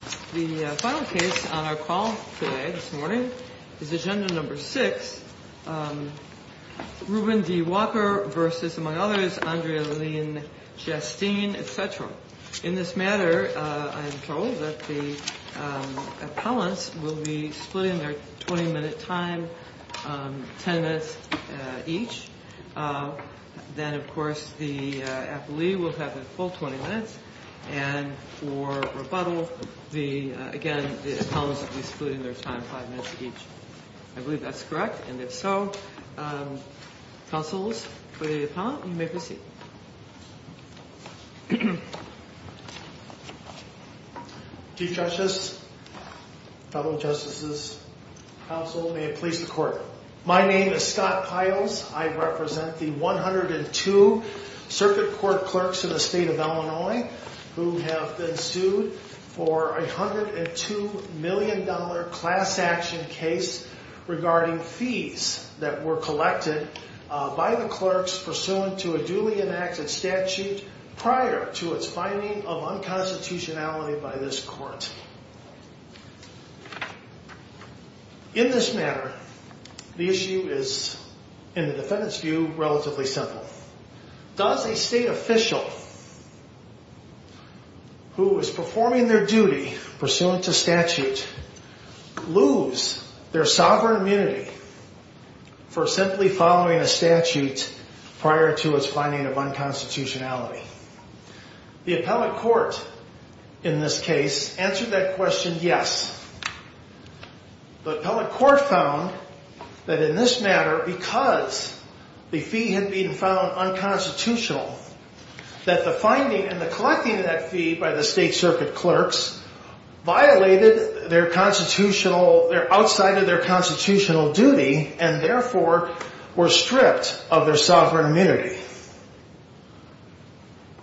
The final case on our call today, this morning, is Agenda No. 6, Ruben D. Walker v. Andrea Lynn Chasteen, etc. In this matter, I am told that the appellants will be splitting their 20-minute time, 10 minutes each. Then, of course, the appellee will have the full 20 minutes, and for rebuttal, again, the appellants will be splitting their time 5 minutes each. I believe that's correct, and if so, counsels, for the appellant, you may proceed. Chief Justice, fellow justices, counsel, may it please the court. My name is Scott Piles. I represent the 102 circuit court clerks in the state of Illinois who have been sued for a $102 million class action case regarding fees that were collected by the clerks pursuant to a duly enacted statute prior to its finding of unconstitutionality by this court. In this matter, the issue is, in the defendant's view, relatively simple. Does a state official who is performing their duty pursuant to statute lose their sovereign immunity for simply following a statute prior to its finding of unconstitutionality? The appellate court, in this case, answered that question, yes. The appellate court found that in this matter, because the fee had been found unconstitutional, that the finding and the collecting of that fee by the state circuit clerks violated their constitutional, outside of their constitutional duty, and therefore were stripped of their sovereign immunity.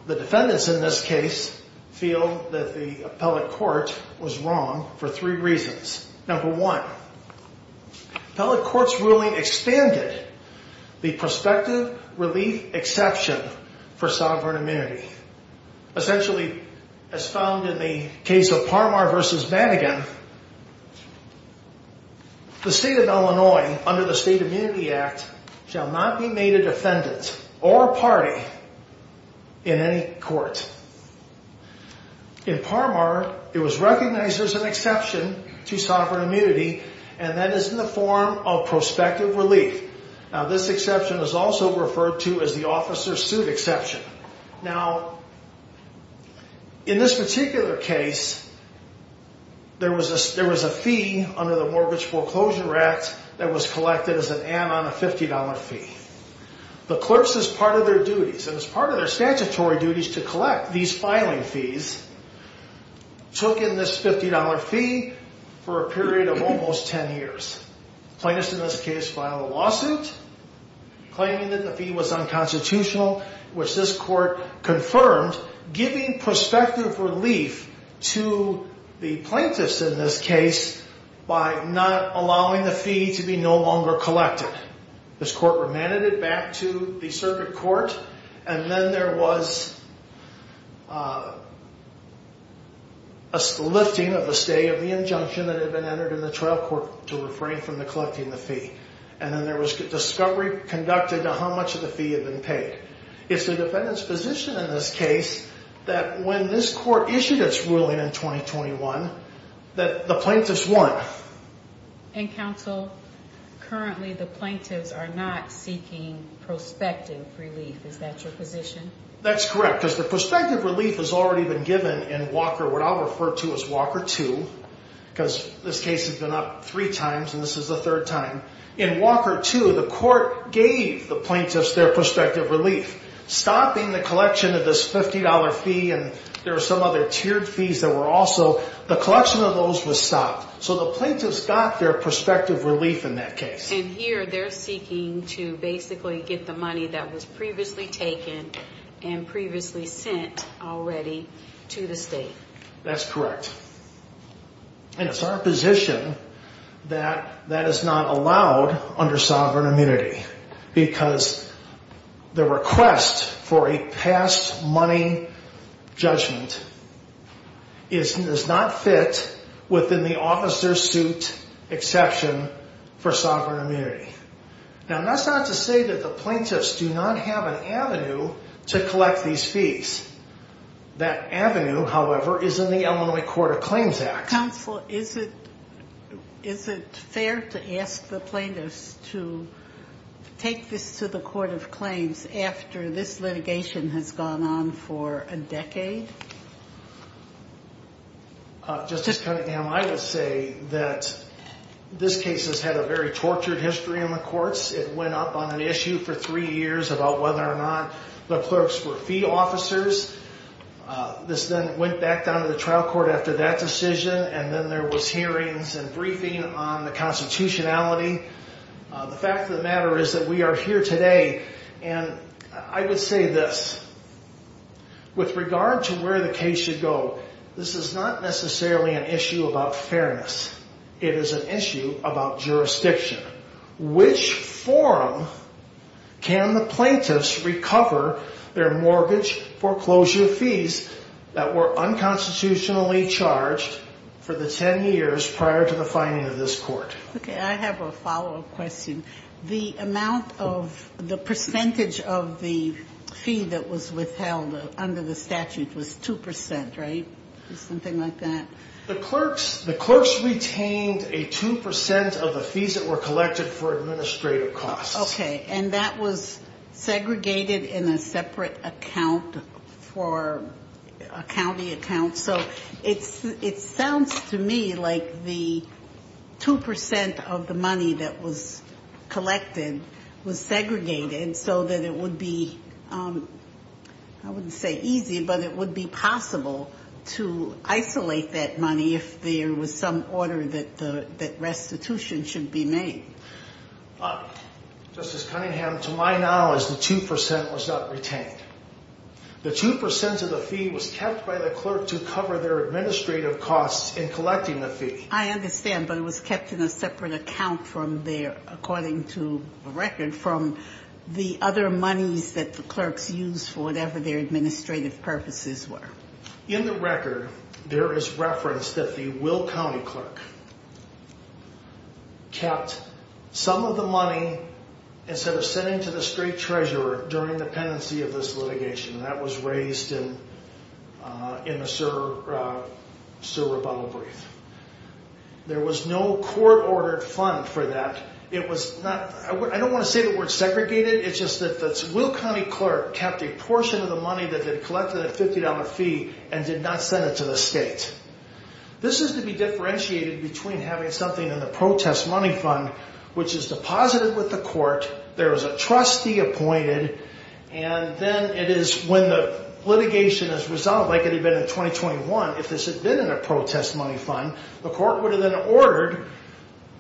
The defendants in this case feel that the appellate court was wrong for three reasons. Number one, appellate court's ruling expanded the prospective relief exception for sovereign immunity. Essentially, as found in the case of Parmar v. Madigan, the state of Illinois, under the State Immunity Act, shall not be made a defendant or a party in any court. In Parmar, it was recognized there's an exception to sovereign immunity, and that is in the form of prospective relief. Now, this exception is also referred to as the officer's suit exception. Now, in this particular case, there was a fee under the Mortgage Foreclosure Act that was collected as an add-on, a $50 fee. The clerks, as part of their duties, and as part of their statutory duties to collect these filing fees, took in this $50 fee for a period of almost 10 years. Plaintiffs in this case filed a lawsuit claiming that the fee was unconstitutional, which this court confirmed, giving prospective relief to the plaintiffs in this case by not allowing the fee to be no longer collected. This court remanded it back to the circuit court, and then there was a lifting of the stay of the injunction that had been entered in the trial court to refrain from collecting the fee. And then there was discovery conducted to how much of the fee had been paid. It's the defendant's position in this case that when this court issued its ruling in 2021, that the plaintiffs won. And counsel, currently the plaintiffs are not seeking prospective relief. Is that your position? That's correct, because the prospective relief has already been given in Walker, what I'll refer to as Walker 2, because this case has been up three times and this is the third time. In Walker 2, the court gave the plaintiffs their prospective relief, stopping the collection of this $50 fee, and there were some other tiered fees that were also. The collection of those was stopped, so the plaintiffs got their prospective relief in that case. And here they're seeking to basically get the money that was previously taken and previously sent already to the state. That's correct. And it's our position that that is not allowed under sovereign immunity because the request for a past money judgment is not fit within the officer's suit exception for sovereign immunity. Now, that's not to say that the plaintiffs do not have an avenue to collect these fees. That avenue, however, is in the Illinois Court of Claims Act. Counsel, is it fair to ask the plaintiffs to take this to the Court of Claims after this litigation has gone on for a decade? Justice Cunningham, I would say that this case has had a very tortured history in the courts. It went up on an issue for three years about whether or not the clerks were fee officers. This then went back down to the trial court after that decision, and then there was hearings and briefing on the constitutionality. The fact of the matter is that we are here today, and I would say this. With regard to where the case should go, this is not necessarily an issue about fairness. It is an issue about jurisdiction. Which forum can the plaintiffs recover their mortgage foreclosure fees that were unconstitutionally charged for the ten years prior to the finding of this court? Okay, I have a follow-up question. The amount of the percentage of the fee that was withheld under the statute was 2%, right? Something like that? The clerks retained a 2% of the fees that were collected for administrative costs. Okay, and that was segregated in a separate account for a county account. So it sounds to me like the 2% of the money that was collected was segregated so that it would be, I wouldn't say easy, but it would be possible to isolate that money if there was some order that restitution should be made. Justice Cunningham, to my knowledge, the 2% was not retained. The 2% of the fee was kept by the clerk to cover their administrative costs in collecting the fee. I understand, but it was kept in a separate account from their, according to the record, from the other monies that the clerks used for whatever their administrative purposes were. In the record, there is reference that the Will County clerk kept some of the money instead of sending to the state treasurer during the pendency of this litigation. That was raised in the Sir Rebuttal Brief. There was no court-ordered fund for that. It was not, I don't want to say the word segregated, it's just that the Will County clerk kept a portion of the money that they'd collected in a $50 fee and did not send it to the state. This is to be differentiated between having something in the protest money fund, which is deposited with the court, there is a trustee appointed, and then it is when the litigation is resolved, like it had been in 2021, if this had been in a protest money fund, the court would have then ordered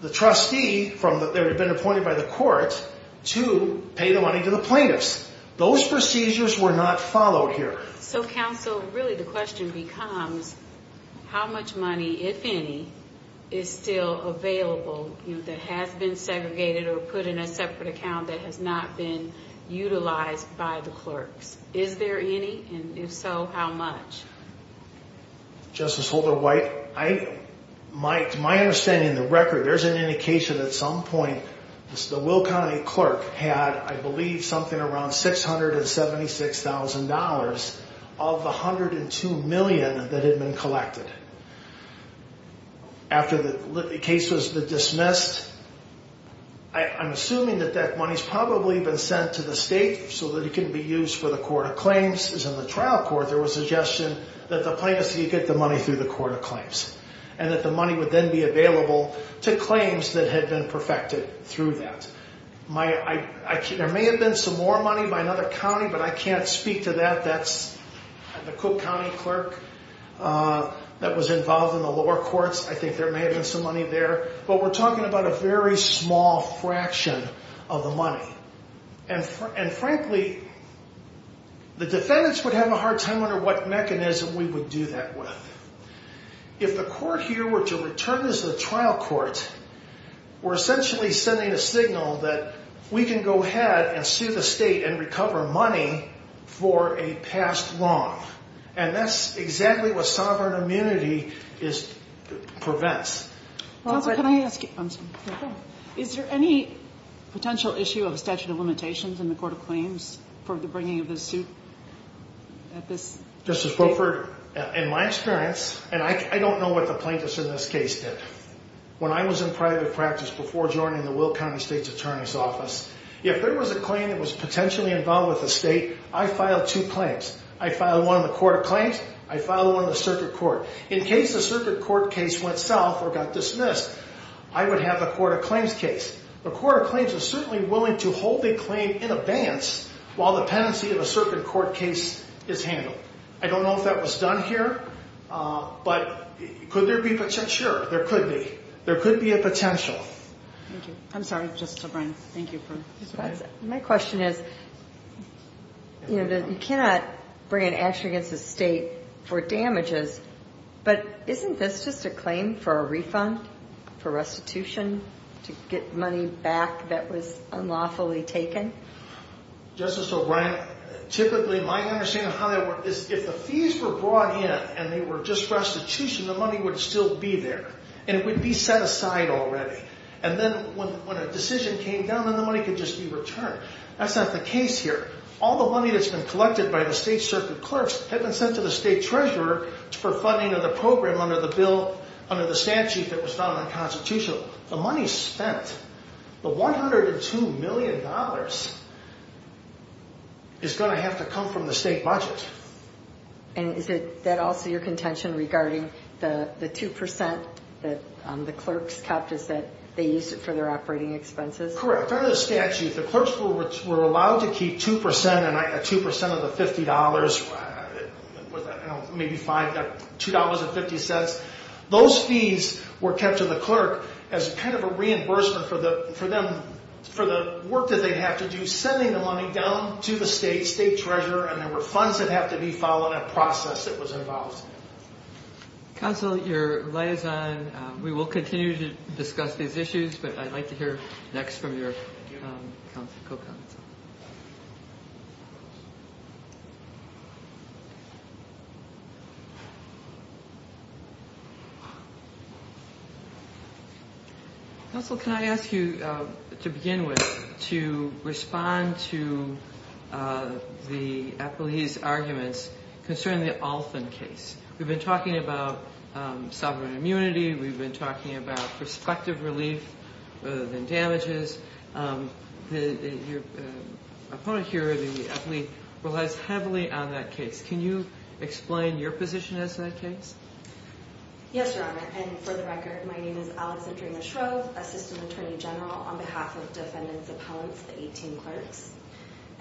the trustee that had been appointed by the court to pay the money to the plaintiffs. Those procedures were not followed here. So, counsel, really the question becomes, how much money, if any, is still available that has been segregated or put in a separate account that has not been utilized by the clerks? Is there any, and if so, how much? Justice Holder-White, my understanding of the record, there's an indication at some point that the Will County clerk had, I believe, something around $676,000 of the $102 million that had been collected. After the case was dismissed, I'm assuming that that money's probably been sent to the state so that it can be used for the court of claims. In the trial court, there was a suggestion that the plaintiffs could get the money through the court of claims and that the money would then be available to claims that had been perfected through that. There may have been some more money by another county, but I can't speak to that. That's the Cook County clerk that was involved in the lower courts. I think there may have been some money there. But we're talking about a very small fraction of the money. And frankly, the defendants would have a hard time wondering what mechanism we would do that with. If the court here were to return this to the trial court, we're essentially sending a signal that we can go ahead and sue the state and recover money for a past wrong. And that's exactly what sovereign immunity prevents. Is there any potential issue of statute of limitations in the court of claims for the bringing of this suit? Justice Wilford, in my experience, and I don't know what the plaintiffs in this case did, when I was in private practice before joining the Will County State's Attorney's Office, if there was a claim that was potentially involved with the state, I filed two claims. I filed one in the court of claims. I filed one in the circuit court. In case the circuit court case went south or got dismissed, I would have the court of claims case. The court of claims is certainly willing to hold a claim in abeyance while the penancy of a circuit court case is handled. I don't know if that was done here. But could there be potential? Sure, there could be. There could be a potential. Thank you. I'm sorry, Justice O'Brien. Thank you. My question is, you know, you cannot bring an action against the state for damages, but isn't this just a claim for a refund, for restitution, to get money back that was unlawfully taken? Justice O'Brien, typically my understanding of how that works is if the fees were brought in and they were just restitution, the money would still be there, and it would be set aside already. And then when a decision came down, then the money could just be returned. That's not the case here. All the money that's been collected by the state circuit clerks had been sent to the state treasurer for funding of the program under the statute that was found in the Constitution. The money spent, the $102 million, is going to have to come from the state budget. And is that also your contention regarding the 2% that the clerks kept? Is that they used it for their operating expenses? Correct. Under the statute, the clerks were allowed to keep 2% of the $50, maybe $2.50. Those fees were kept to the clerk as kind of a reimbursement for them, for the work that they have to do sending the money down to the state, state treasurer, and there were funds that have to be followed, a process that was involved. Counsel, your light is on. We will continue to discuss these issues, but I'd like to hear next from your co-counsel. Counsel, can I ask you, to begin with, to respond to the athlete's arguments concerning the Althon case. We've been talking about sovereign immunity. We've been talking about prospective relief rather than damages. Your opponent here, the athlete, relies heavily on that case. Can you explain your position as to that case? Yes, Your Honor, and for the record, my name is Alexandra Shrove, assistant attorney general on behalf of defendants' appellants, the 18 clerks.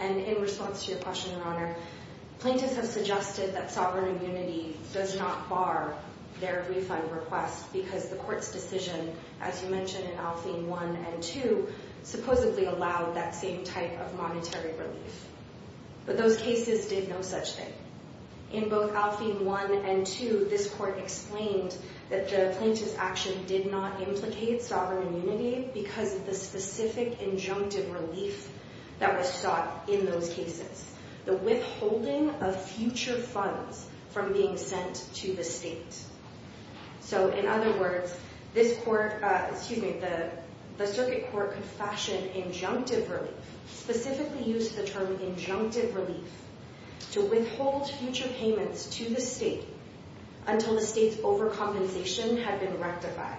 In response to your question, Your Honor, plaintiffs have suggested that sovereign immunity does not bar their refund request because the court's decision, as you mentioned in Alfine 1 and 2, supposedly allowed that same type of monetary relief. But those cases did no such thing. In both Alfine 1 and 2, this court explained that the plaintiff's action did not implicate sovereign immunity because of the specific injunctive relief that was sought in those cases, the withholding of future funds from being sent to the state. So, in other words, this court, excuse me, the circuit court could fashion injunctive relief, specifically use the term injunctive relief, to withhold future payments to the state until the state's overcompensation had been rectified.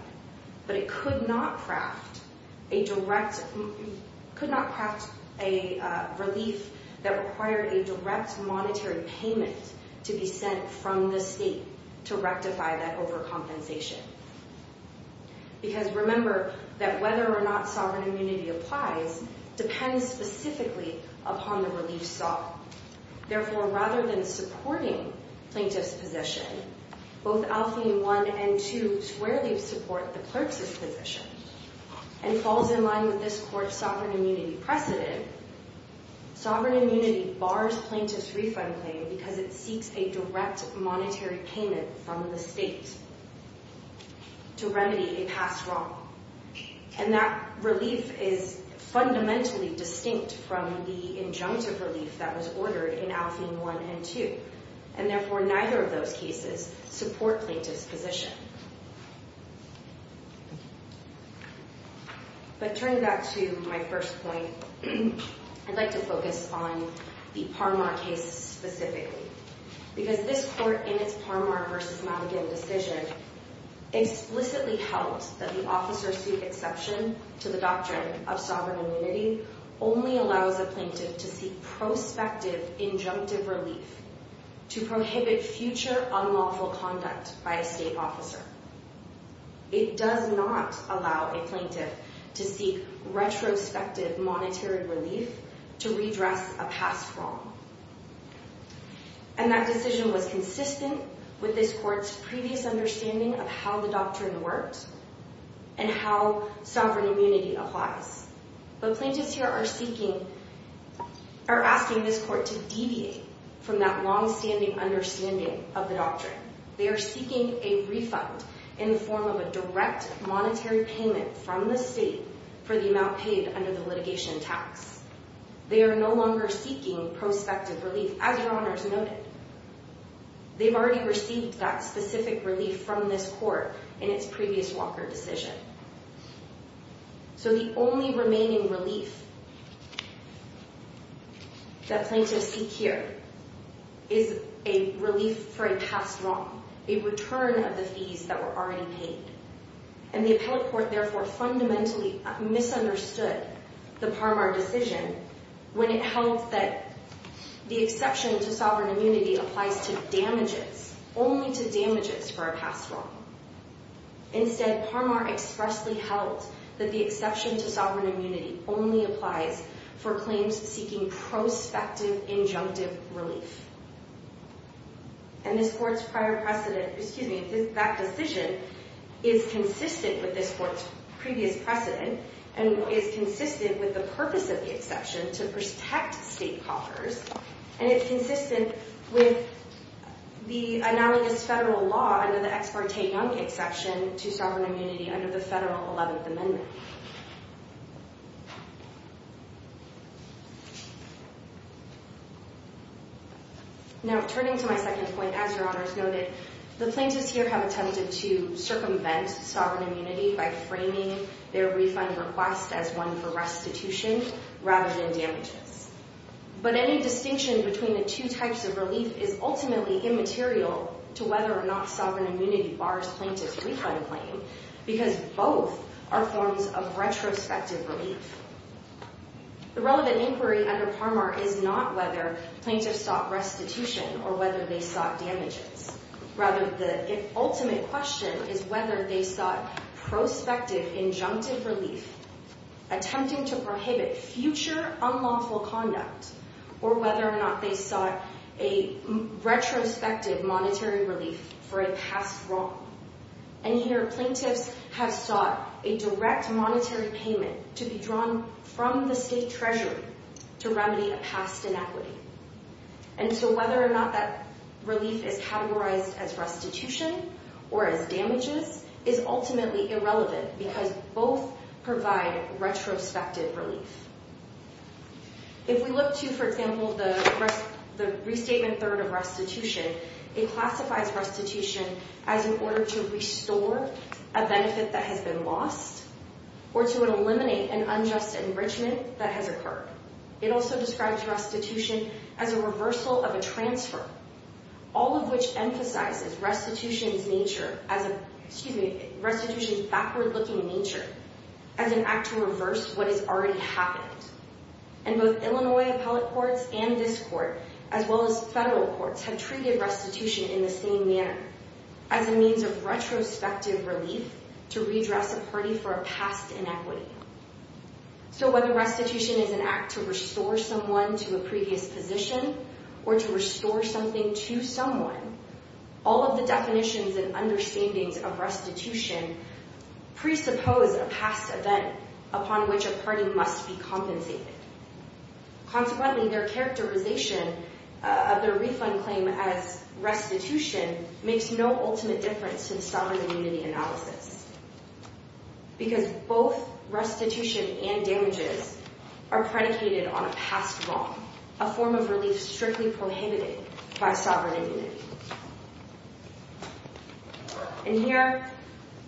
But it could not craft a direct, could not craft a relief that required a direct monetary payment to be sent from the state to rectify that overcompensation. Because, remember, that whether or not sovereign immunity applies depends specifically upon the relief sought. Therefore, rather than supporting plaintiff's position, both Alfine 1 and 2 squarely support the clerk's position and falls in line with this court's sovereign immunity precedent, sovereign immunity bars plaintiff's refund claim because it seeks a direct monetary payment from the state to remedy a past wrong. And that relief is fundamentally distinct from the injunctive relief that was ordered in Alfine 1 and 2. And, therefore, neither of those cases support plaintiff's position. But turning back to my first point, I'd like to focus on the Parmar case specifically. Because this court, in its Parmar v. Maligan decision, explicitly held that the officer's exception to the doctrine of sovereign immunity only allows a plaintiff to seek prospective injunctive relief to prohibit future unlawful conduct by a state officer. It does not allow a plaintiff to seek retrospective monetary relief to redress a past wrong. And that decision was consistent with this court's previous understanding of how the doctrine worked and how sovereign immunity applies. But plaintiffs here are seeking... are asking this court to deviate from that long-standing understanding of the doctrine. They are seeking a refund in the form of a direct monetary payment from the state for the amount paid under the litigation tax. They are no longer seeking prospective relief, as Your Honors noted. They've already received that specific relief from this court in its previous Walker decision. So the only remaining relief that plaintiffs seek here is a relief for a past wrong, a return of the fees that were already paid. And the appellate court therefore fundamentally misunderstood the Parmar decision when it held that the exception to sovereign immunity applies to damages, only to damages for a past wrong. Instead, Parmar expressly held that the exception to sovereign immunity only applies for claims seeking prospective injunctive relief. And this court's prior precedent... excuse me, that decision is consistent with this court's previous precedent and is consistent with the purpose of the exception to protect state coffers, and it's consistent with the analogous federal law under the Ex Parte Young exception to sovereign immunity under the federal 11th Amendment. Now, turning to my second point, as Your Honors noted, the plaintiffs here have attempted to circumvent sovereign immunity by framing their refund request as one for restitution rather than damages. But any distinction between the two types of relief is ultimately immaterial to whether or not sovereign immunity bars plaintiffs' refund claim because both are forms of retrospective relief. The relevant inquiry under Parmar is not whether plaintiffs sought restitution or whether they sought damages. Rather, the ultimate question is whether they sought prospective injunctive relief, attempting to prohibit future unlawful conduct, or whether or not they sought a retrospective monetary relief for a past wrong. And here, plaintiffs have sought a direct monetary payment to be drawn from the state treasury to remedy a past inequity. And so whether or not that relief is categorized as restitution or as damages is ultimately irrelevant because both provide retrospective relief. If we look to, for example, the restatement third of restitution, it classifies restitution as in order to restore a benefit that has been lost or to eliminate an unjust enrichment that has occurred. It also describes restitution as a reversal of a transfer, all of which emphasizes restitution's backward-looking nature as an act to reverse what has already happened. And both Illinois appellate courts and this court, as well as federal courts, have treated restitution in the same manner, as a means of retrospective relief to redress a party for a past inequity. So whether restitution is an act to restore someone to a previous position or to restore something to someone, all of the definitions and understandings of restitution presuppose a past event upon which a party must be compensated. Consequently, their characterization of their refund claim as restitution makes no ultimate difference in sovereign immunity analysis because both restitution and damages are predicated on a past wrong, a form of relief strictly prohibited by sovereign immunity. And here,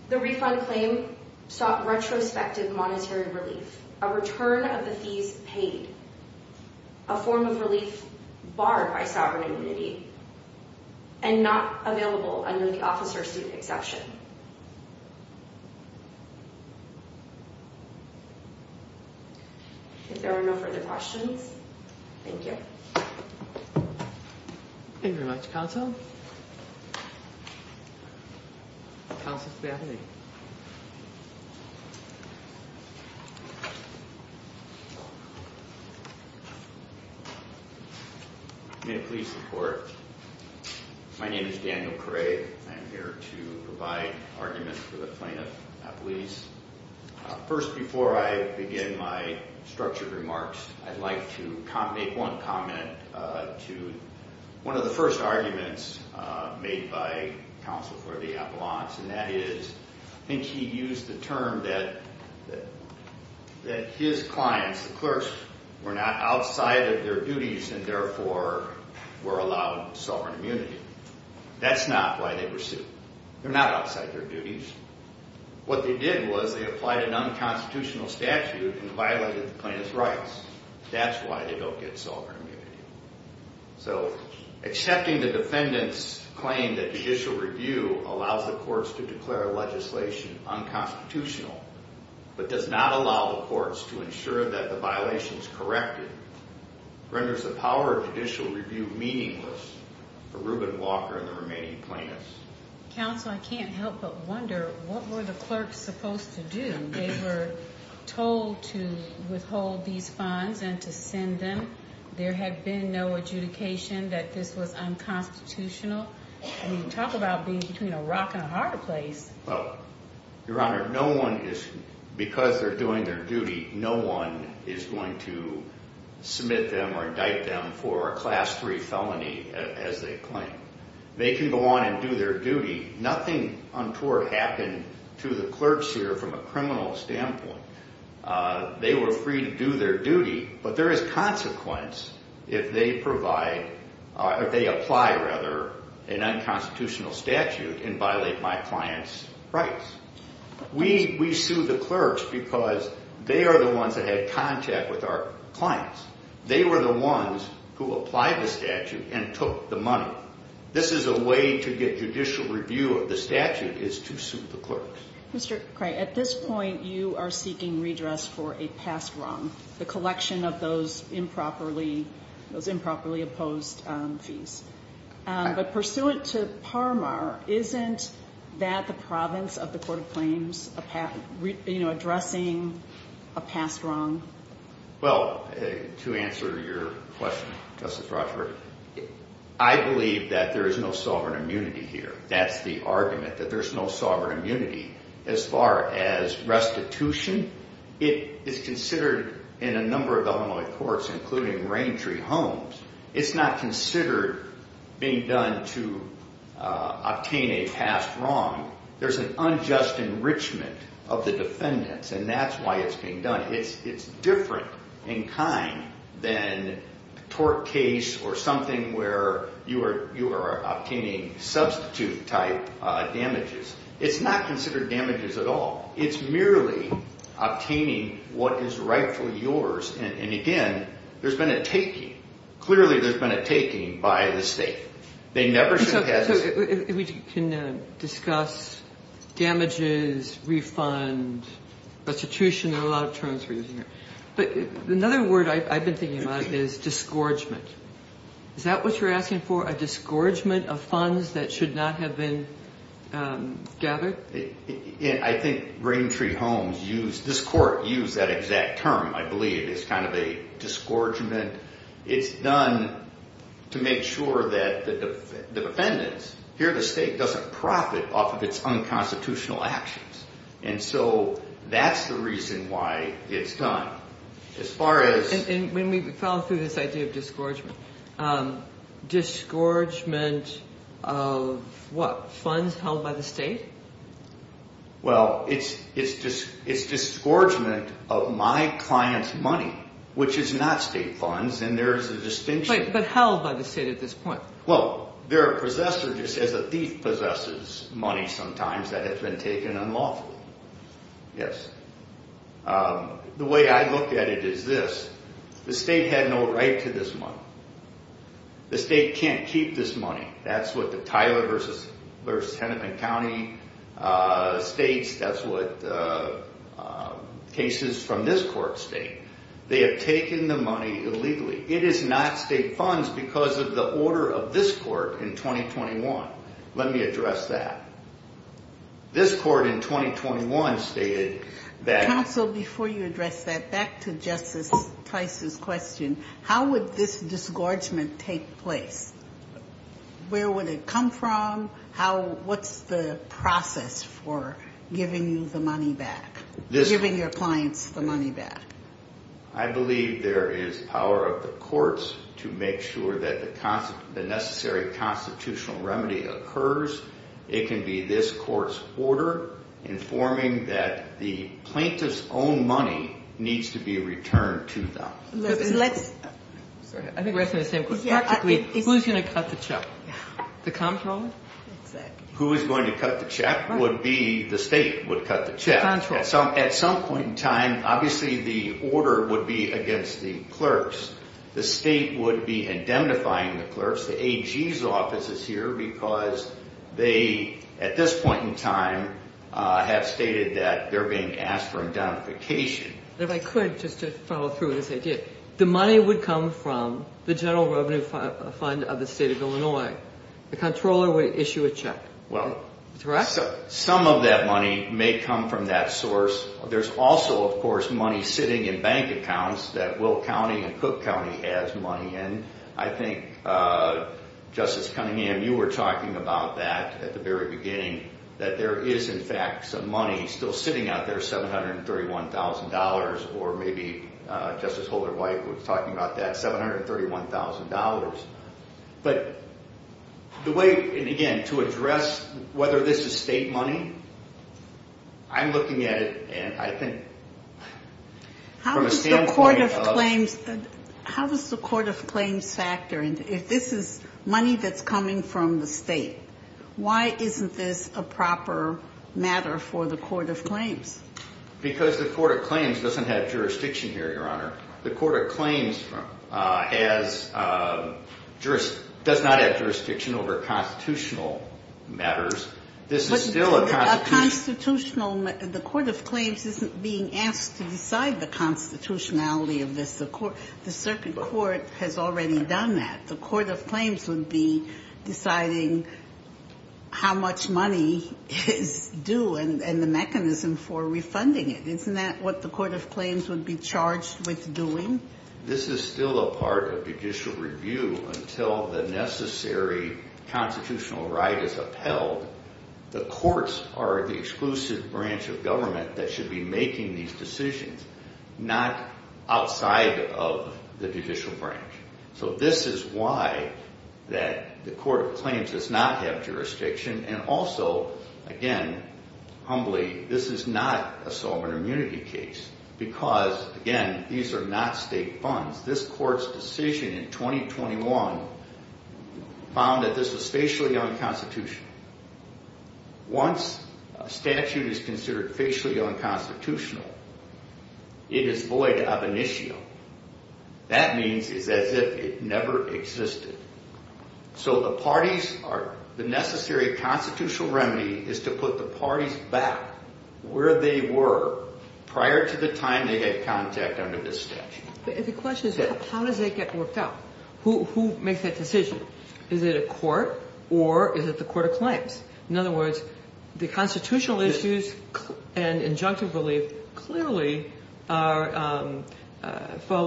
the refund claim sought retrospective monetary relief, a return of the fees paid, a form of relief barred by sovereign immunity and not available under the officer-student exception. If there are no further questions, thank you. Thank you very much, counsel. Counsel to the appellee. May it please the court. My name is Daniel Cray. I'm here to provide arguments for the plaintiff, appellees. First, before I begin my structured remarks, I'd like to make one comment to one of the first arguments made by counsel for the appellants, and that is I think he used the term that his clients, the clerks, were not outside of their duties and therefore were allowed sovereign immunity. That's not why they were sued. They're not outside their duties. What they did was they applied an unconstitutional statute and violated the plaintiff's rights. That's why they don't get sovereign immunity. So accepting the defendant's claim that judicial review allows the courts to declare legislation unconstitutional but does not allow the courts to ensure that the violation is corrected renders the power of judicial review meaningless for Reuben Walker and the remaining plaintiffs. Counsel, I can't help but wonder what were the clerks supposed to do? They were told to withhold these funds and to send them. There had been no adjudication that this was unconstitutional. I mean, talk about being between a rock and a hard place. Well, Your Honor, no one is, because they're doing their duty, no one is going to submit them or indict them for a Class III felony as they claim. They can go on and do their duty. Nothing untoward happened to the clerks here from a criminal standpoint. They were free to do their duty, but there is consequence if they provide or if they apply, rather, an unconstitutional statute and violate my client's rights. We sue the clerks because they are the ones that had contact with our clients. They were the ones who applied the statute and took the money. This is a way to get judicial review of the statute is to sue the clerks. Mr. Cray, at this point you are seeking redress for a past wrong, the collection of those improperly opposed fees. But pursuant to Parmar, isn't that the province of the court of claims addressing a past wrong? Well, to answer your question, Justice Rochford, I believe that there is no sovereign immunity here. That's the argument, that there's no sovereign immunity. As far as restitution, it is considered in a number of Illinois courts, including Raintree Homes, it's not considered being done to obtain a past wrong. There's an unjust enrichment of the defendants, and that's why it's being done. It's different in kind than a tort case or something where you are obtaining substitute-type damages. It's not considered damages at all. It's merely obtaining what is rightfully yours. And, again, there's been a taking. Clearly there's been a taking by the state. So if we can discuss damages, refund, restitution, there are a lot of terms we're using here. But another word I've been thinking about is disgorgement. Is that what you're asking for, a disgorgement of funds that should not have been gathered? I think Raintree Homes, this court used that exact term, I believe. It's kind of a disgorgement. It's done to make sure that the defendants, here the state, doesn't profit off of its unconstitutional actions. And so that's the reason why it's done. As far as— And when we follow through this idea of disgorgement, disgorgement of what, funds held by the state? Well, it's disgorgement of my client's money, which is not state funds, and there's a distinction. But held by the state at this point? Well, there are possessors. It says a thief possesses money sometimes that has been taken unlawfully. Yes. The way I look at it is this. The state had no right to this money. The state can't keep this money. That's what the Tyler v. Henneman County states. That's what cases from this court state. They have taken the money illegally. It is not state funds because of the order of this court in 2021. Let me address that. This court in 2021 stated that— Counsel, before you address that, back to Justice Tice's question. How would this disgorgement take place? Where would it come from? What's the process for giving you the money back, giving your clients the money back? I believe there is power of the courts to make sure that the necessary constitutional remedy occurs. It can be this court's order informing that the plaintiff's own money needs to be returned to them. I think we're asking the same question. Who's going to cut the choke? The comptroller? Who is going to cut the check would be the state would cut the check. At some point in time, obviously the order would be against the clerks. The state would be indemnifying the clerks. The AG's office is here because they, at this point in time, have stated that they're being asked for indemnification. If I could, just to follow through with this idea, the money would come from the General Revenue Fund of the State of Illinois. The comptroller would issue a check. Some of that money may come from that source. There's also, of course, money sitting in bank accounts that Will County and Cook County has money in. I think, Justice Cunningham, you were talking about that at the very beginning, that there is, in fact, some money still sitting out there, $731,000, or maybe Justice Holder-White was talking about that, $731,000. But the way, and again, to address whether this is state money, I'm looking at it and I think from a standpoint of... How does the Court of Claims factor in? If this is money that's coming from the state, why isn't this a proper matter for the Court of Claims? Because the Court of Claims doesn't have jurisdiction here, Your Honor. The Court of Claims does not have jurisdiction over constitutional matters. This is still a constitutional... A constitutional... The Court of Claims isn't being asked to decide the constitutionality of this. The circuit court has already done that. The Court of Claims would be deciding how much money is due and the mechanism for refunding it. Isn't that what the Court of Claims would be charged with doing? This is still a part of judicial review until the necessary constitutional right is upheld. The courts are the exclusive branch of government that should be making these decisions, not outside of the judicial branch. So this is why the Court of Claims does not have jurisdiction, and also, again, humbly, this is not a sovereign immunity case because, again, these are not state funds. This court's decision in 2021 found that this was facially unconstitutional. Once a statute is considered facially unconstitutional, it is void of initio. That means it's as if it never existed. So the parties are... The necessary constitutional remedy is to put the parties back where they were prior to the time they had contact under this statute. The question is how does that get worked out? Who makes that decision? Is it a court or is it the Court of Claims? In other words, the constitutional issues and injunctive relief clearly fall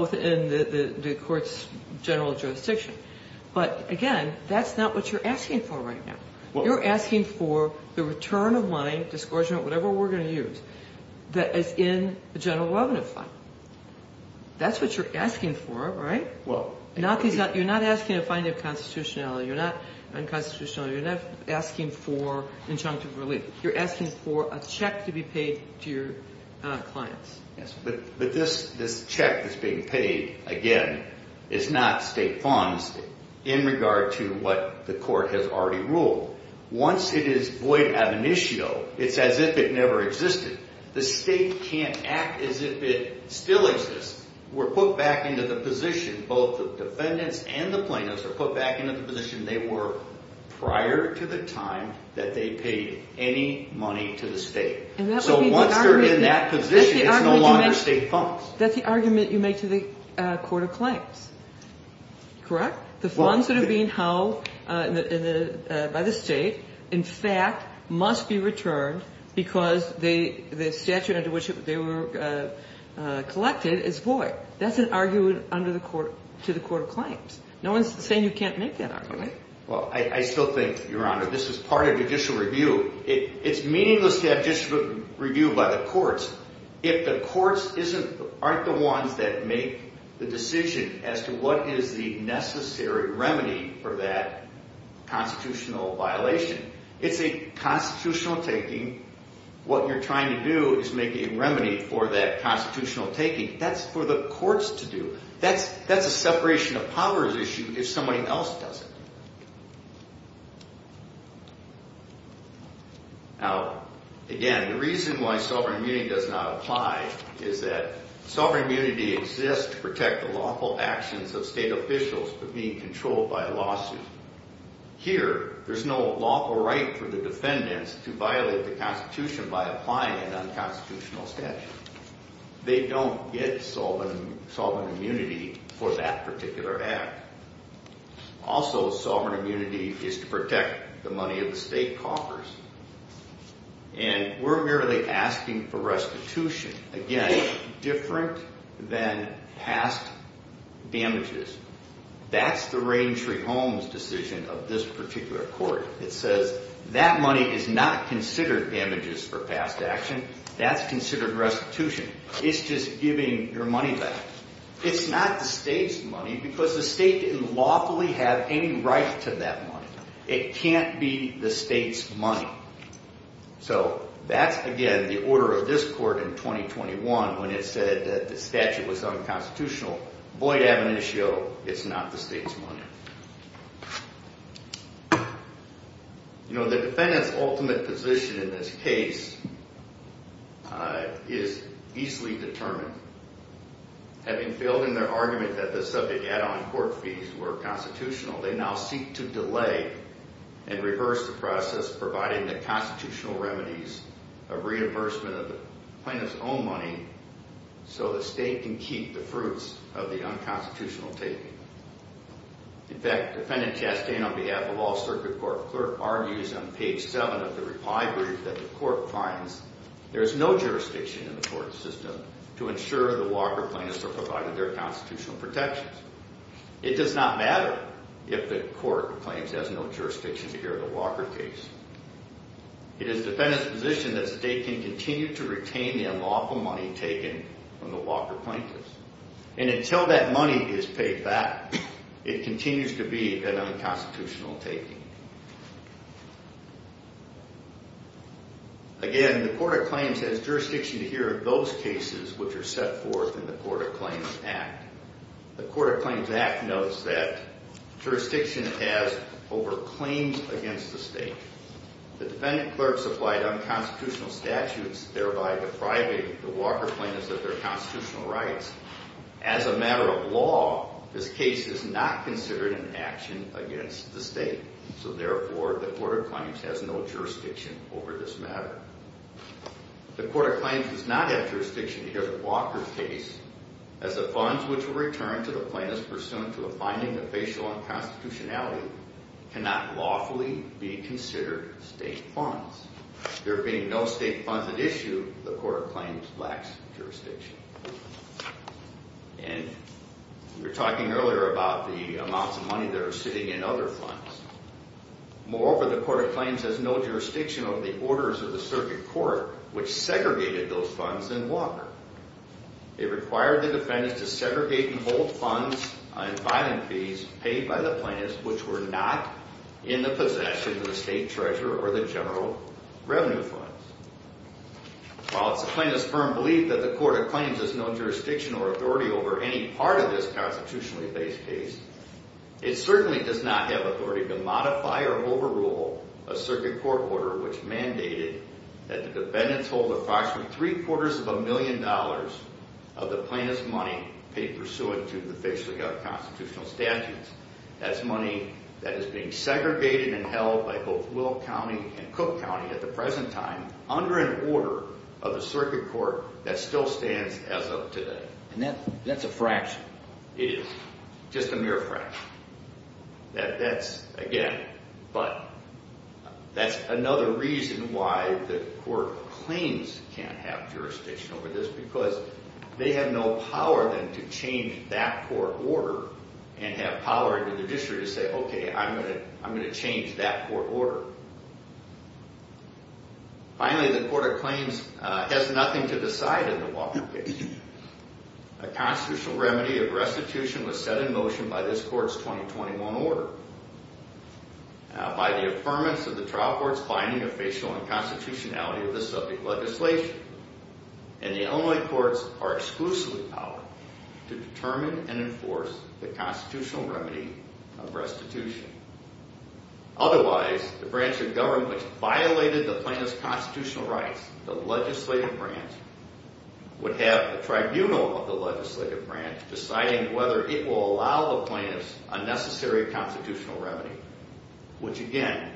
within the court's general jurisdiction. But, again, that's not what you're asking for right now. You're asking for the return of money, discouragement, whatever we're going to use, that is in the general revenue fund. That's what you're asking for, right? You're not asking a finding of constitutionality. You're not unconstitutional. You're not asking for injunctive relief. You're asking for a check to be paid to your clients. But this check that's being paid, again, is not state funds in regard to what the court has already ruled. Once it is void of initio, it's as if it never existed. The state can't act as if it still exists. We're put back into the position, both the defendants and the plaintiffs are put back into the position they were prior to the time that they paid any money to the state. So once they're in that position, it's no longer state funds. That's the argument you make to the court of claims, correct? The funds that are being held by the state, in fact, must be returned because the statute under which they were collected is void. That's an argument to the court of claims. No one's saying you can't make that argument. Well, I still think, Your Honor, this is part of judicial review. It's meaningless to have judicial review by the courts if the courts aren't the ones that make the decision as to what is the necessary remedy for that constitutional violation. It's a constitutional taking. What you're trying to do is make a remedy for that constitutional taking. That's for the courts to do. That's a separation of powers issue if somebody else does it. Now, again, the reason why sovereign immunity does not apply is that sovereign immunity exists to protect the lawful actions of state officials for being controlled by a lawsuit. Here, there's no lawful right for the defendants to violate the Constitution by applying an unconstitutional statute. They don't get sovereign immunity for that particular act. Also, sovereign immunity is to protect the money of the state coffers. And we're merely asking for restitution. Again, different than past damages. That's the Rain Tree Homes decision of this particular court. It says that money is not considered damages for past action. That's considered restitution. It's just giving your money back. It's not the state's money because the state didn't lawfully have any right to that money. It can't be the state's money. So that's, again, the order of this court in 2021 when it said that the statute was unconstitutional. Void ab initio. It's not the state's money. The defendant's ultimate position in this case is easily determined. Having failed in their argument that the subject add-on court fees were constitutional, they now seek to delay and reverse the process providing the constitutional remedies of reimbursement of the plaintiff's own money so the state can keep the fruits of the unconstitutional taking. In fact, Defendant Chastain, on behalf of all circuit court clerk, argues on page 7 of the reply brief that the court finds there is no jurisdiction in the court system to ensure the Walker plaintiffs are provided their constitutional protections. It does not matter if the court claims it has no jurisdiction here in the Walker case. It is the defendant's position that the state can continue to retain the unlawful money taken from the Walker plaintiffs. And until that money is paid back, it continues to be an unconstitutional taking. Again, the Court of Claims has jurisdiction here in those cases which are set forth in the Court of Claims Act. The Court of Claims Act notes that jurisdiction has over claims against the state. The defendant clerk supplied unconstitutional statutes thereby depriving the Walker plaintiffs of their constitutional rights. As a matter of law, this case is not considered an action against the state. So therefore, the Court of Claims has no jurisdiction over this matter. The Court of Claims does not have jurisdiction here in the Walker case as the funds which were returned to the plaintiffs pursuant to a finding of facial unconstitutionality cannot lawfully be considered state funds. There being no state funds at issue, the Court of Claims lacks jurisdiction. And we were talking earlier about the amounts of money that are sitting in other funds. Moreover, the Court of Claims has no jurisdiction over the orders of the circuit court which segregated those funds in Walker. It required the defendants to segregate and hold funds on filing fees paid by the plaintiffs which were not in the possession of the state treasurer or the general revenue funds. While it's the plaintiff's firm belief that the Court of Claims has no jurisdiction or authority over any part of this constitutionally based case, it certainly does not have authority to modify or overrule a circuit court order which mandated that the defendants hold approximately three-quarters of a million dollars of the plaintiff's money paid pursuant to the facial gut constitutional statutes. That's money that is being segregated and held by both Willow County and Cook County at the present time under an order of the circuit court that still stands as of today. And that's a fraction. It is. Just a mere fraction. That's, again, but that's another reason why the Court of Claims can't have jurisdiction over this because they have no power then to change that court order and have power in the judiciary to say, okay, I'm going to change that court order. Finally, the Court of Claims has nothing to decide in the Walker case. A constitutional remedy of restitution was set in motion by this court's 2021 order. By the affirmance of the trial court's finding of facial unconstitutionality of the subject legislation and the Illinois courts are exclusively powered to determine and enforce the constitutional remedy of restitution. Otherwise, the branch of government which violated the plaintiff's constitutional rights, the legislative branch, would have a tribunal of the legislative branch deciding whether it will allow the plaintiff's unnecessary constitutional remedy, which, again,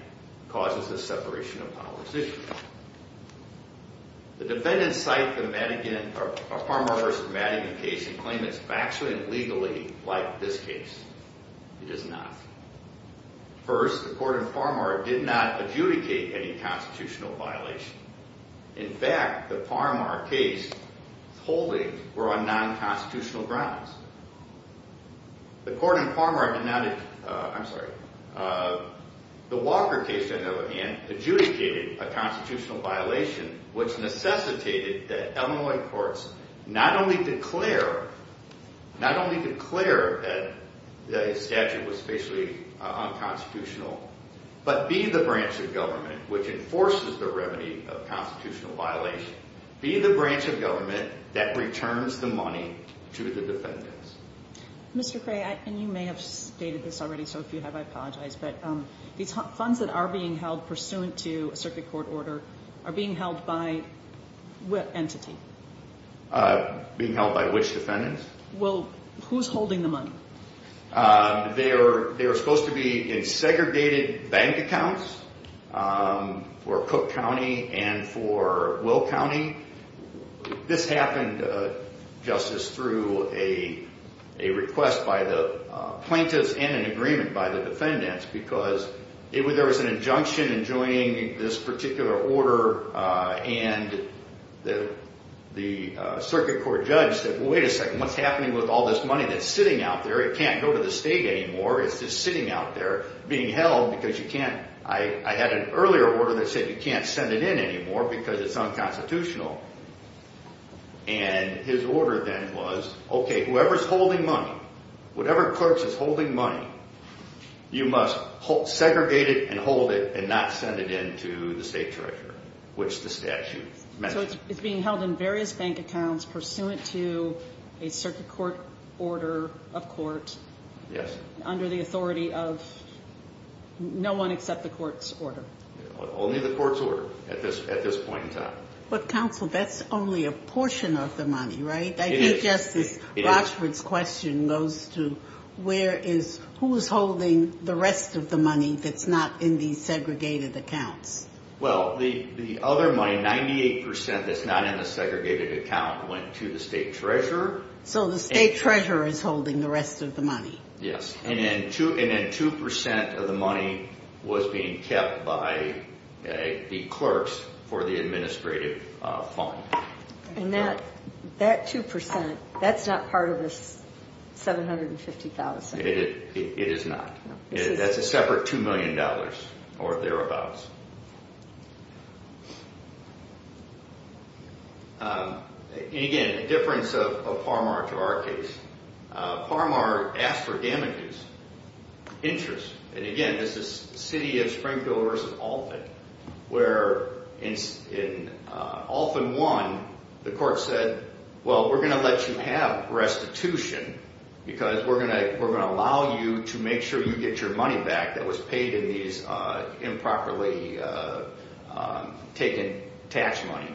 causes the separation of powers issue. The defendants cite the Farmer v. Madigan case and claim it's factually and legally like this case. It is not. First, the court in Farmer did not adjudicate any constitutional violation. In fact, the Farmer case holdings were on non-constitutional grounds. The Walker case, on the other hand, adjudicated a constitutional violation which necessitated that Illinois courts not only declare that the statute was facially unconstitutional, but be the branch of government which enforces the remedy of constitutional violation. Be the branch of government that returns the money to the defendants. Mr. Cray, and you may have stated this already, so if you have, I apologize, but these funds that are being held pursuant to a circuit court order are being held by what entity? Being held by which defendants? Well, who's holding the money? They were supposed to be in segregated bank accounts for Cook County and for Will County. This happened, Justice, through a request by the plaintiffs and an agreement by the defendants because there was an injunction enjoining this particular order, and the circuit court judge said, wait a second, what's happening with all this money that's sitting out there? It can't go to the state anymore. It's just sitting out there being held because you can't, I had an earlier order that said you can't send it in anymore because it's unconstitutional. And his order then was, okay, whoever's holding money, whatever courts is holding money, you must segregate it and hold it and not send it in to the state treasurer, which the statute mentions. It's being held in various bank accounts pursuant to a circuit court order of court. Yes. Under the authority of no one except the court's order. Only the court's order at this point in time. But, counsel, that's only a portion of the money, right? It is. I think Justice Rochford's question goes to where is, who is holding the rest of the money that's not in these segregated accounts? Well, the other money, 98% that's not in the segregated account went to the state treasurer. So the state treasurer is holding the rest of the money. Yes. And then 2% of the money was being kept by the clerks for the administrative fund. And that 2%, that's not part of the $750,000. It is not. That's a separate $2 million or thereabouts. And, again, a difference of Parmar to our case. Parmar asked for damages, interest. And, again, this is the city of Springfield versus Alton where in Alton 1, the court said, well, we're going to let you have restitution because we're going to allow you to make sure you get your money back that was paid in these improperly taken tax money.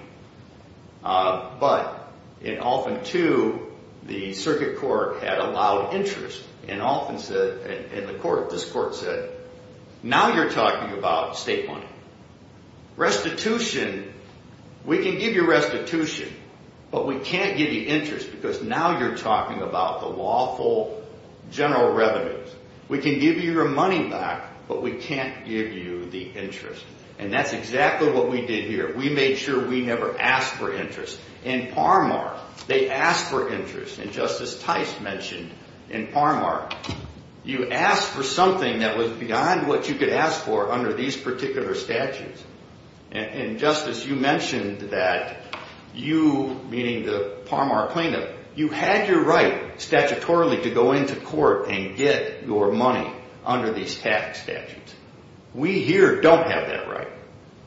But in Alton 2, the circuit court had allowed interest. And Alton said, and the court, this court said, now you're talking about state money. Restitution, we can give you restitution, but we can't give you interest because now you're talking about the lawful general revenues. We can give you your money back, but we can't give you the interest. And that's exactly what we did here. We made sure we never asked for interest. In Parmar, they asked for interest. And Justice Tice mentioned in Parmar, you asked for something that was beyond what you could ask for under these particular statutes. And, Justice, you mentioned that you, meaning the Parmar plaintiff, you had your right statutorily to go into court and get your money under these tax statutes. We here don't have that right.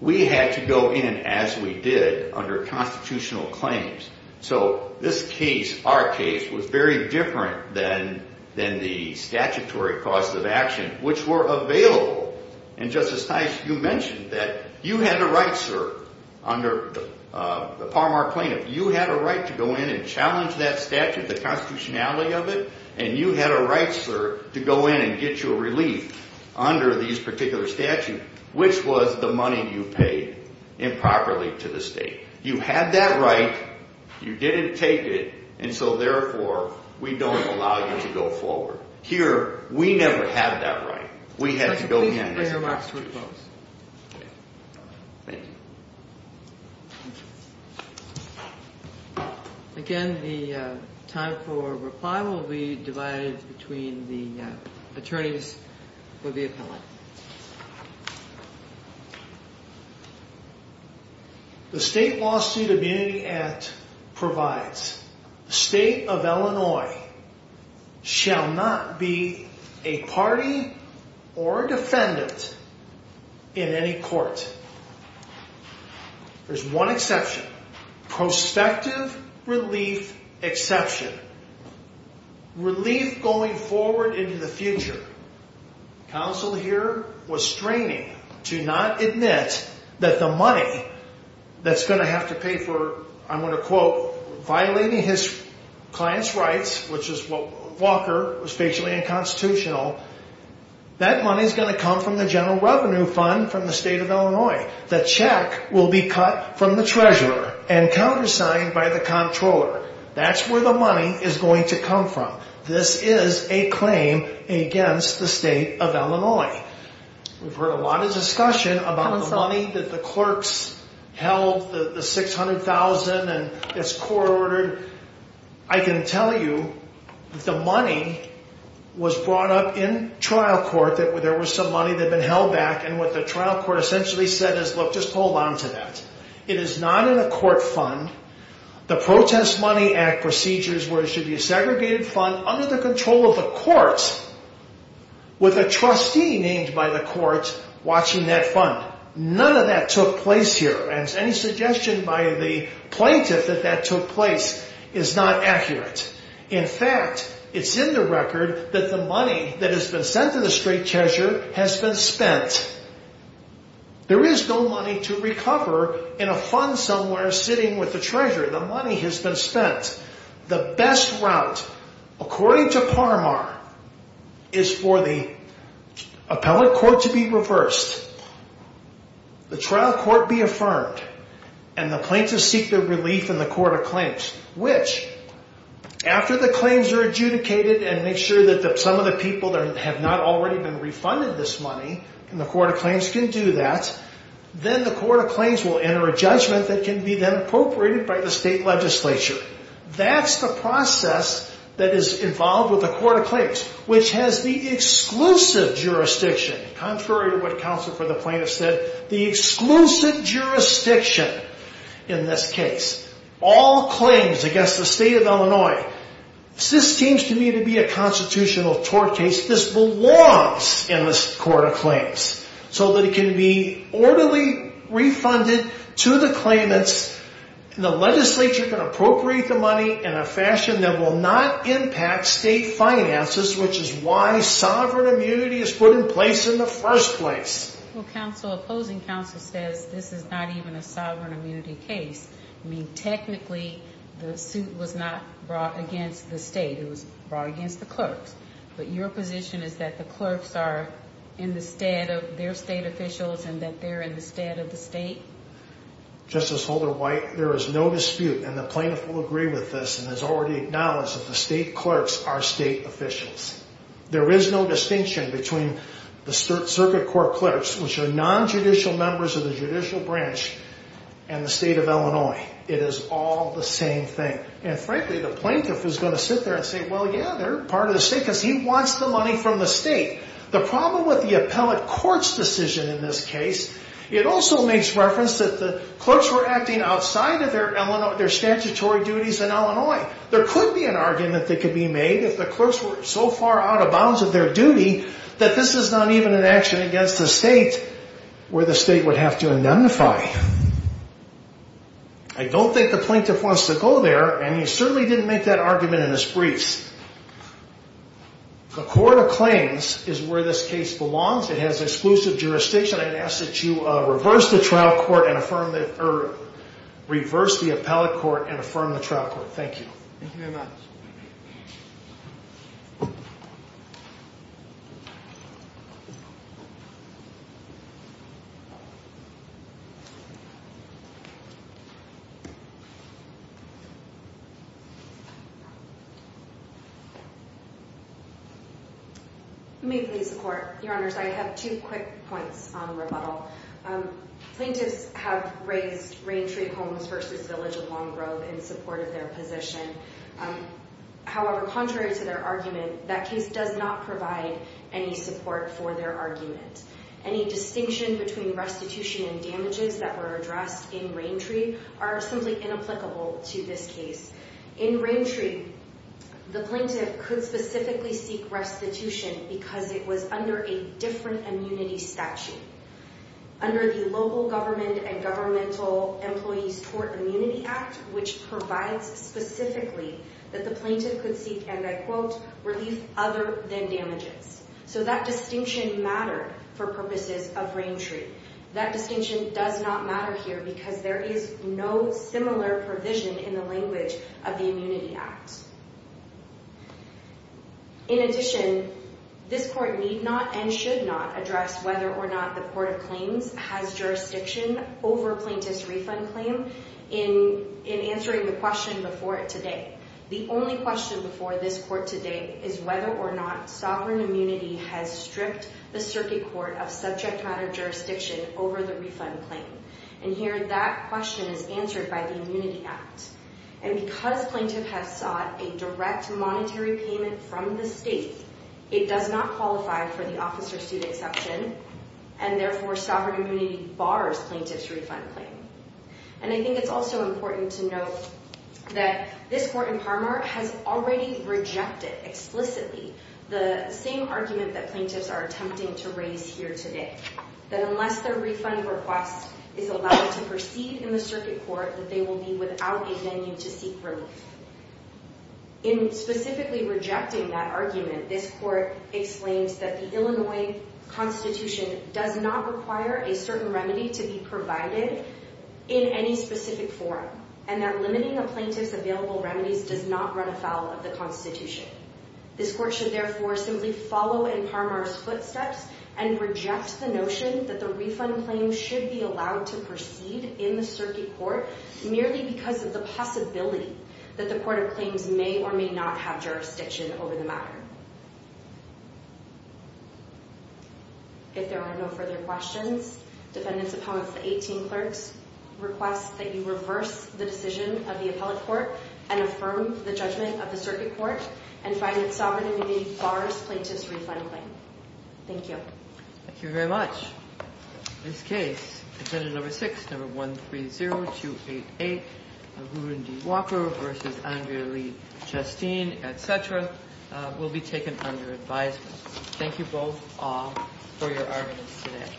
We had to go in as we did under constitutional claims. So this case, our case, was very different than the statutory cause of action, which were available. And, Justice Tice, you mentioned that you had a right, sir, under the Parmar plaintiff, you had a right to go in and challenge that statute, the constitutionality of it, and you had a right, sir, to go in and get your relief under these particular statutes, which was the money you paid improperly to the state. You had that right. You didn't take it. And so, therefore, we don't allow you to go forward. Here, we never had that right. We had to go in. Please bring your remarks to a close. Okay. Thank you. Thank you. Again, the time for reply will be divided between the attorneys with the appellate. The State Lawsuit Immunity Act provides the state of Illinois shall not be a party or defendant in any court. There's one exception. Prospective relief exception. Relief going forward into the future. Counsel here was straining to not admit that the money that's going to have to pay for, I'm going to quote, violating his client's rights, which is what Walker was facially unconstitutional, that money's going to come from the general revenue fund from the state of Illinois. The check will be cut from the treasurer and countersigned by the comptroller. That's where the money is going to come from. This is a claim against the state of Illinois. We've heard a lot of discussion about the money that the clerks held, the $600,000, and it's court-ordered. I can tell you the money was brought up in trial court. There was some money that had been held back. And what the trial court essentially said is, look, just hold on to that. It is not in a court fund. The Protest Money Act procedures where it should be a segregated fund under the control of the courts with a trustee named by the courts watching that fund. None of that took place here. And any suggestion by the plaintiff that that took place is not accurate. In fact, it's in the record that the money that has been sent to the state treasurer has been spent. There is no money to recover in a fund somewhere sitting with the treasurer. The money has been spent. The best route, according to Parmar, is for the appellate court to be reversed, the trial court be affirmed, and the plaintiffs seek their relief in the court of claims, which after the claims are adjudicated and make sure that some of the people that have not already been refunded this money in the court of claims can do that, then the court of claims will enter a judgment that can be then appropriated by the state legislature. That's the process that is involved with the court of claims, which has the exclusive jurisdiction, contrary to what counsel for the plaintiff said, the exclusive jurisdiction in this case. All claims against the state of Illinois. This seems to me to be a constitutional tort case. This belongs in the court of claims so that it can be orderly refunded to the claimants. The legislature can appropriate the money in a fashion that will not impact state finances, which is why sovereign immunity is put in place in the first place. Well, opposing counsel says this is not even a sovereign immunity case. I mean, technically, the suit was not brought against the state. It was brought against the clerks. But your position is that the clerks are in the stead of their state officials and that they're in the stead of the state? Justice Holder-White, there is no dispute, and the plaintiff will agree with this and has already acknowledged that the state clerks are state officials. There is no distinction between the circuit court clerks, which are nonjudicial members of the judicial branch, and the state of Illinois. It is all the same thing. And frankly, the plaintiff is going to sit there and say, well, yeah, they're part of the state because he wants the money from the state. The problem with the appellate court's decision in this case, it also makes reference that the clerks were acting outside of their statutory duties in Illinois. There could be an argument that could be made if the clerks were so far out of bounds of their duty that this is not even an action against the state where the state would have to indemnify. I don't think the plaintiff wants to go there, and he certainly didn't make that argument in his briefs. The court of claims is where this case belongs. It has exclusive jurisdiction. I'd ask that you reverse the appellate court and affirm the trial court. Thank you. Thank you very much. You may please report. Your Honors, I have two quick points on rebuttal. Plaintiffs have raised Raintree Homes v. Village of Long Grove in support of their position. However, contrary to their argument, that case does not provide any support for their argument. Any distinction between restitution and damages that were addressed in Raintree are simply inapplicable to this case. In Raintree, the plaintiff could specifically seek restitution because it was under a different immunity statute, under the Local Government and Governmental Employees Tort Immunity Act, which provides specifically that the plaintiff could seek, and I quote, relief other than damages. So that distinction mattered for purposes of Raintree. That distinction does not matter here because there is no similar provision in the language of the Immunity Act. In addition, this court need not and should not address whether or not the court of claims has jurisdiction over a plaintiff's refund claim in answering the question before it today. The only question before this court today is whether or not Sovereign Immunity has stripped the Circuit Court of subject matter jurisdiction over the refund claim. And here that question is answered by the Immunity Act. And because plaintiff has sought a direct monetary payment from the state, it does not qualify for the officer's suit exception, and therefore Sovereign Immunity bars plaintiff's refund claim. And I think it's also important to note that this court in Parmar has already rejected explicitly the same argument that plaintiffs are attempting to raise here today, that unless their refund request is allowed to proceed in the Circuit Court, that they will be without a venue to seek relief. In specifically rejecting that argument, this court explains that the Illinois Constitution does not require a certain remedy to be provided in any specific form, and that limiting a plaintiff's available remedies does not run afoul of the Constitution. This court should therefore simply follow in Parmar's footsteps and reject the notion that the refund claim should be allowed to proceed in the Circuit Court merely because of the possibility that the Court of Claims may or may not have jurisdiction over the matter. If there are no further questions, defendants' opponents, the 18 clerks, request that you reverse the decision of the Appellate Court and affirm the judgment of the Circuit Court and find that Sovereign Immunity bars plaintiff's refund claim. Thank you. Thank you very much. This case, Defendant Number 6, Number 130288, Arundhati Walker v. Andrea Lee Chastain, etc., will be taken under advisement. Thank you both, all, for your arguments today.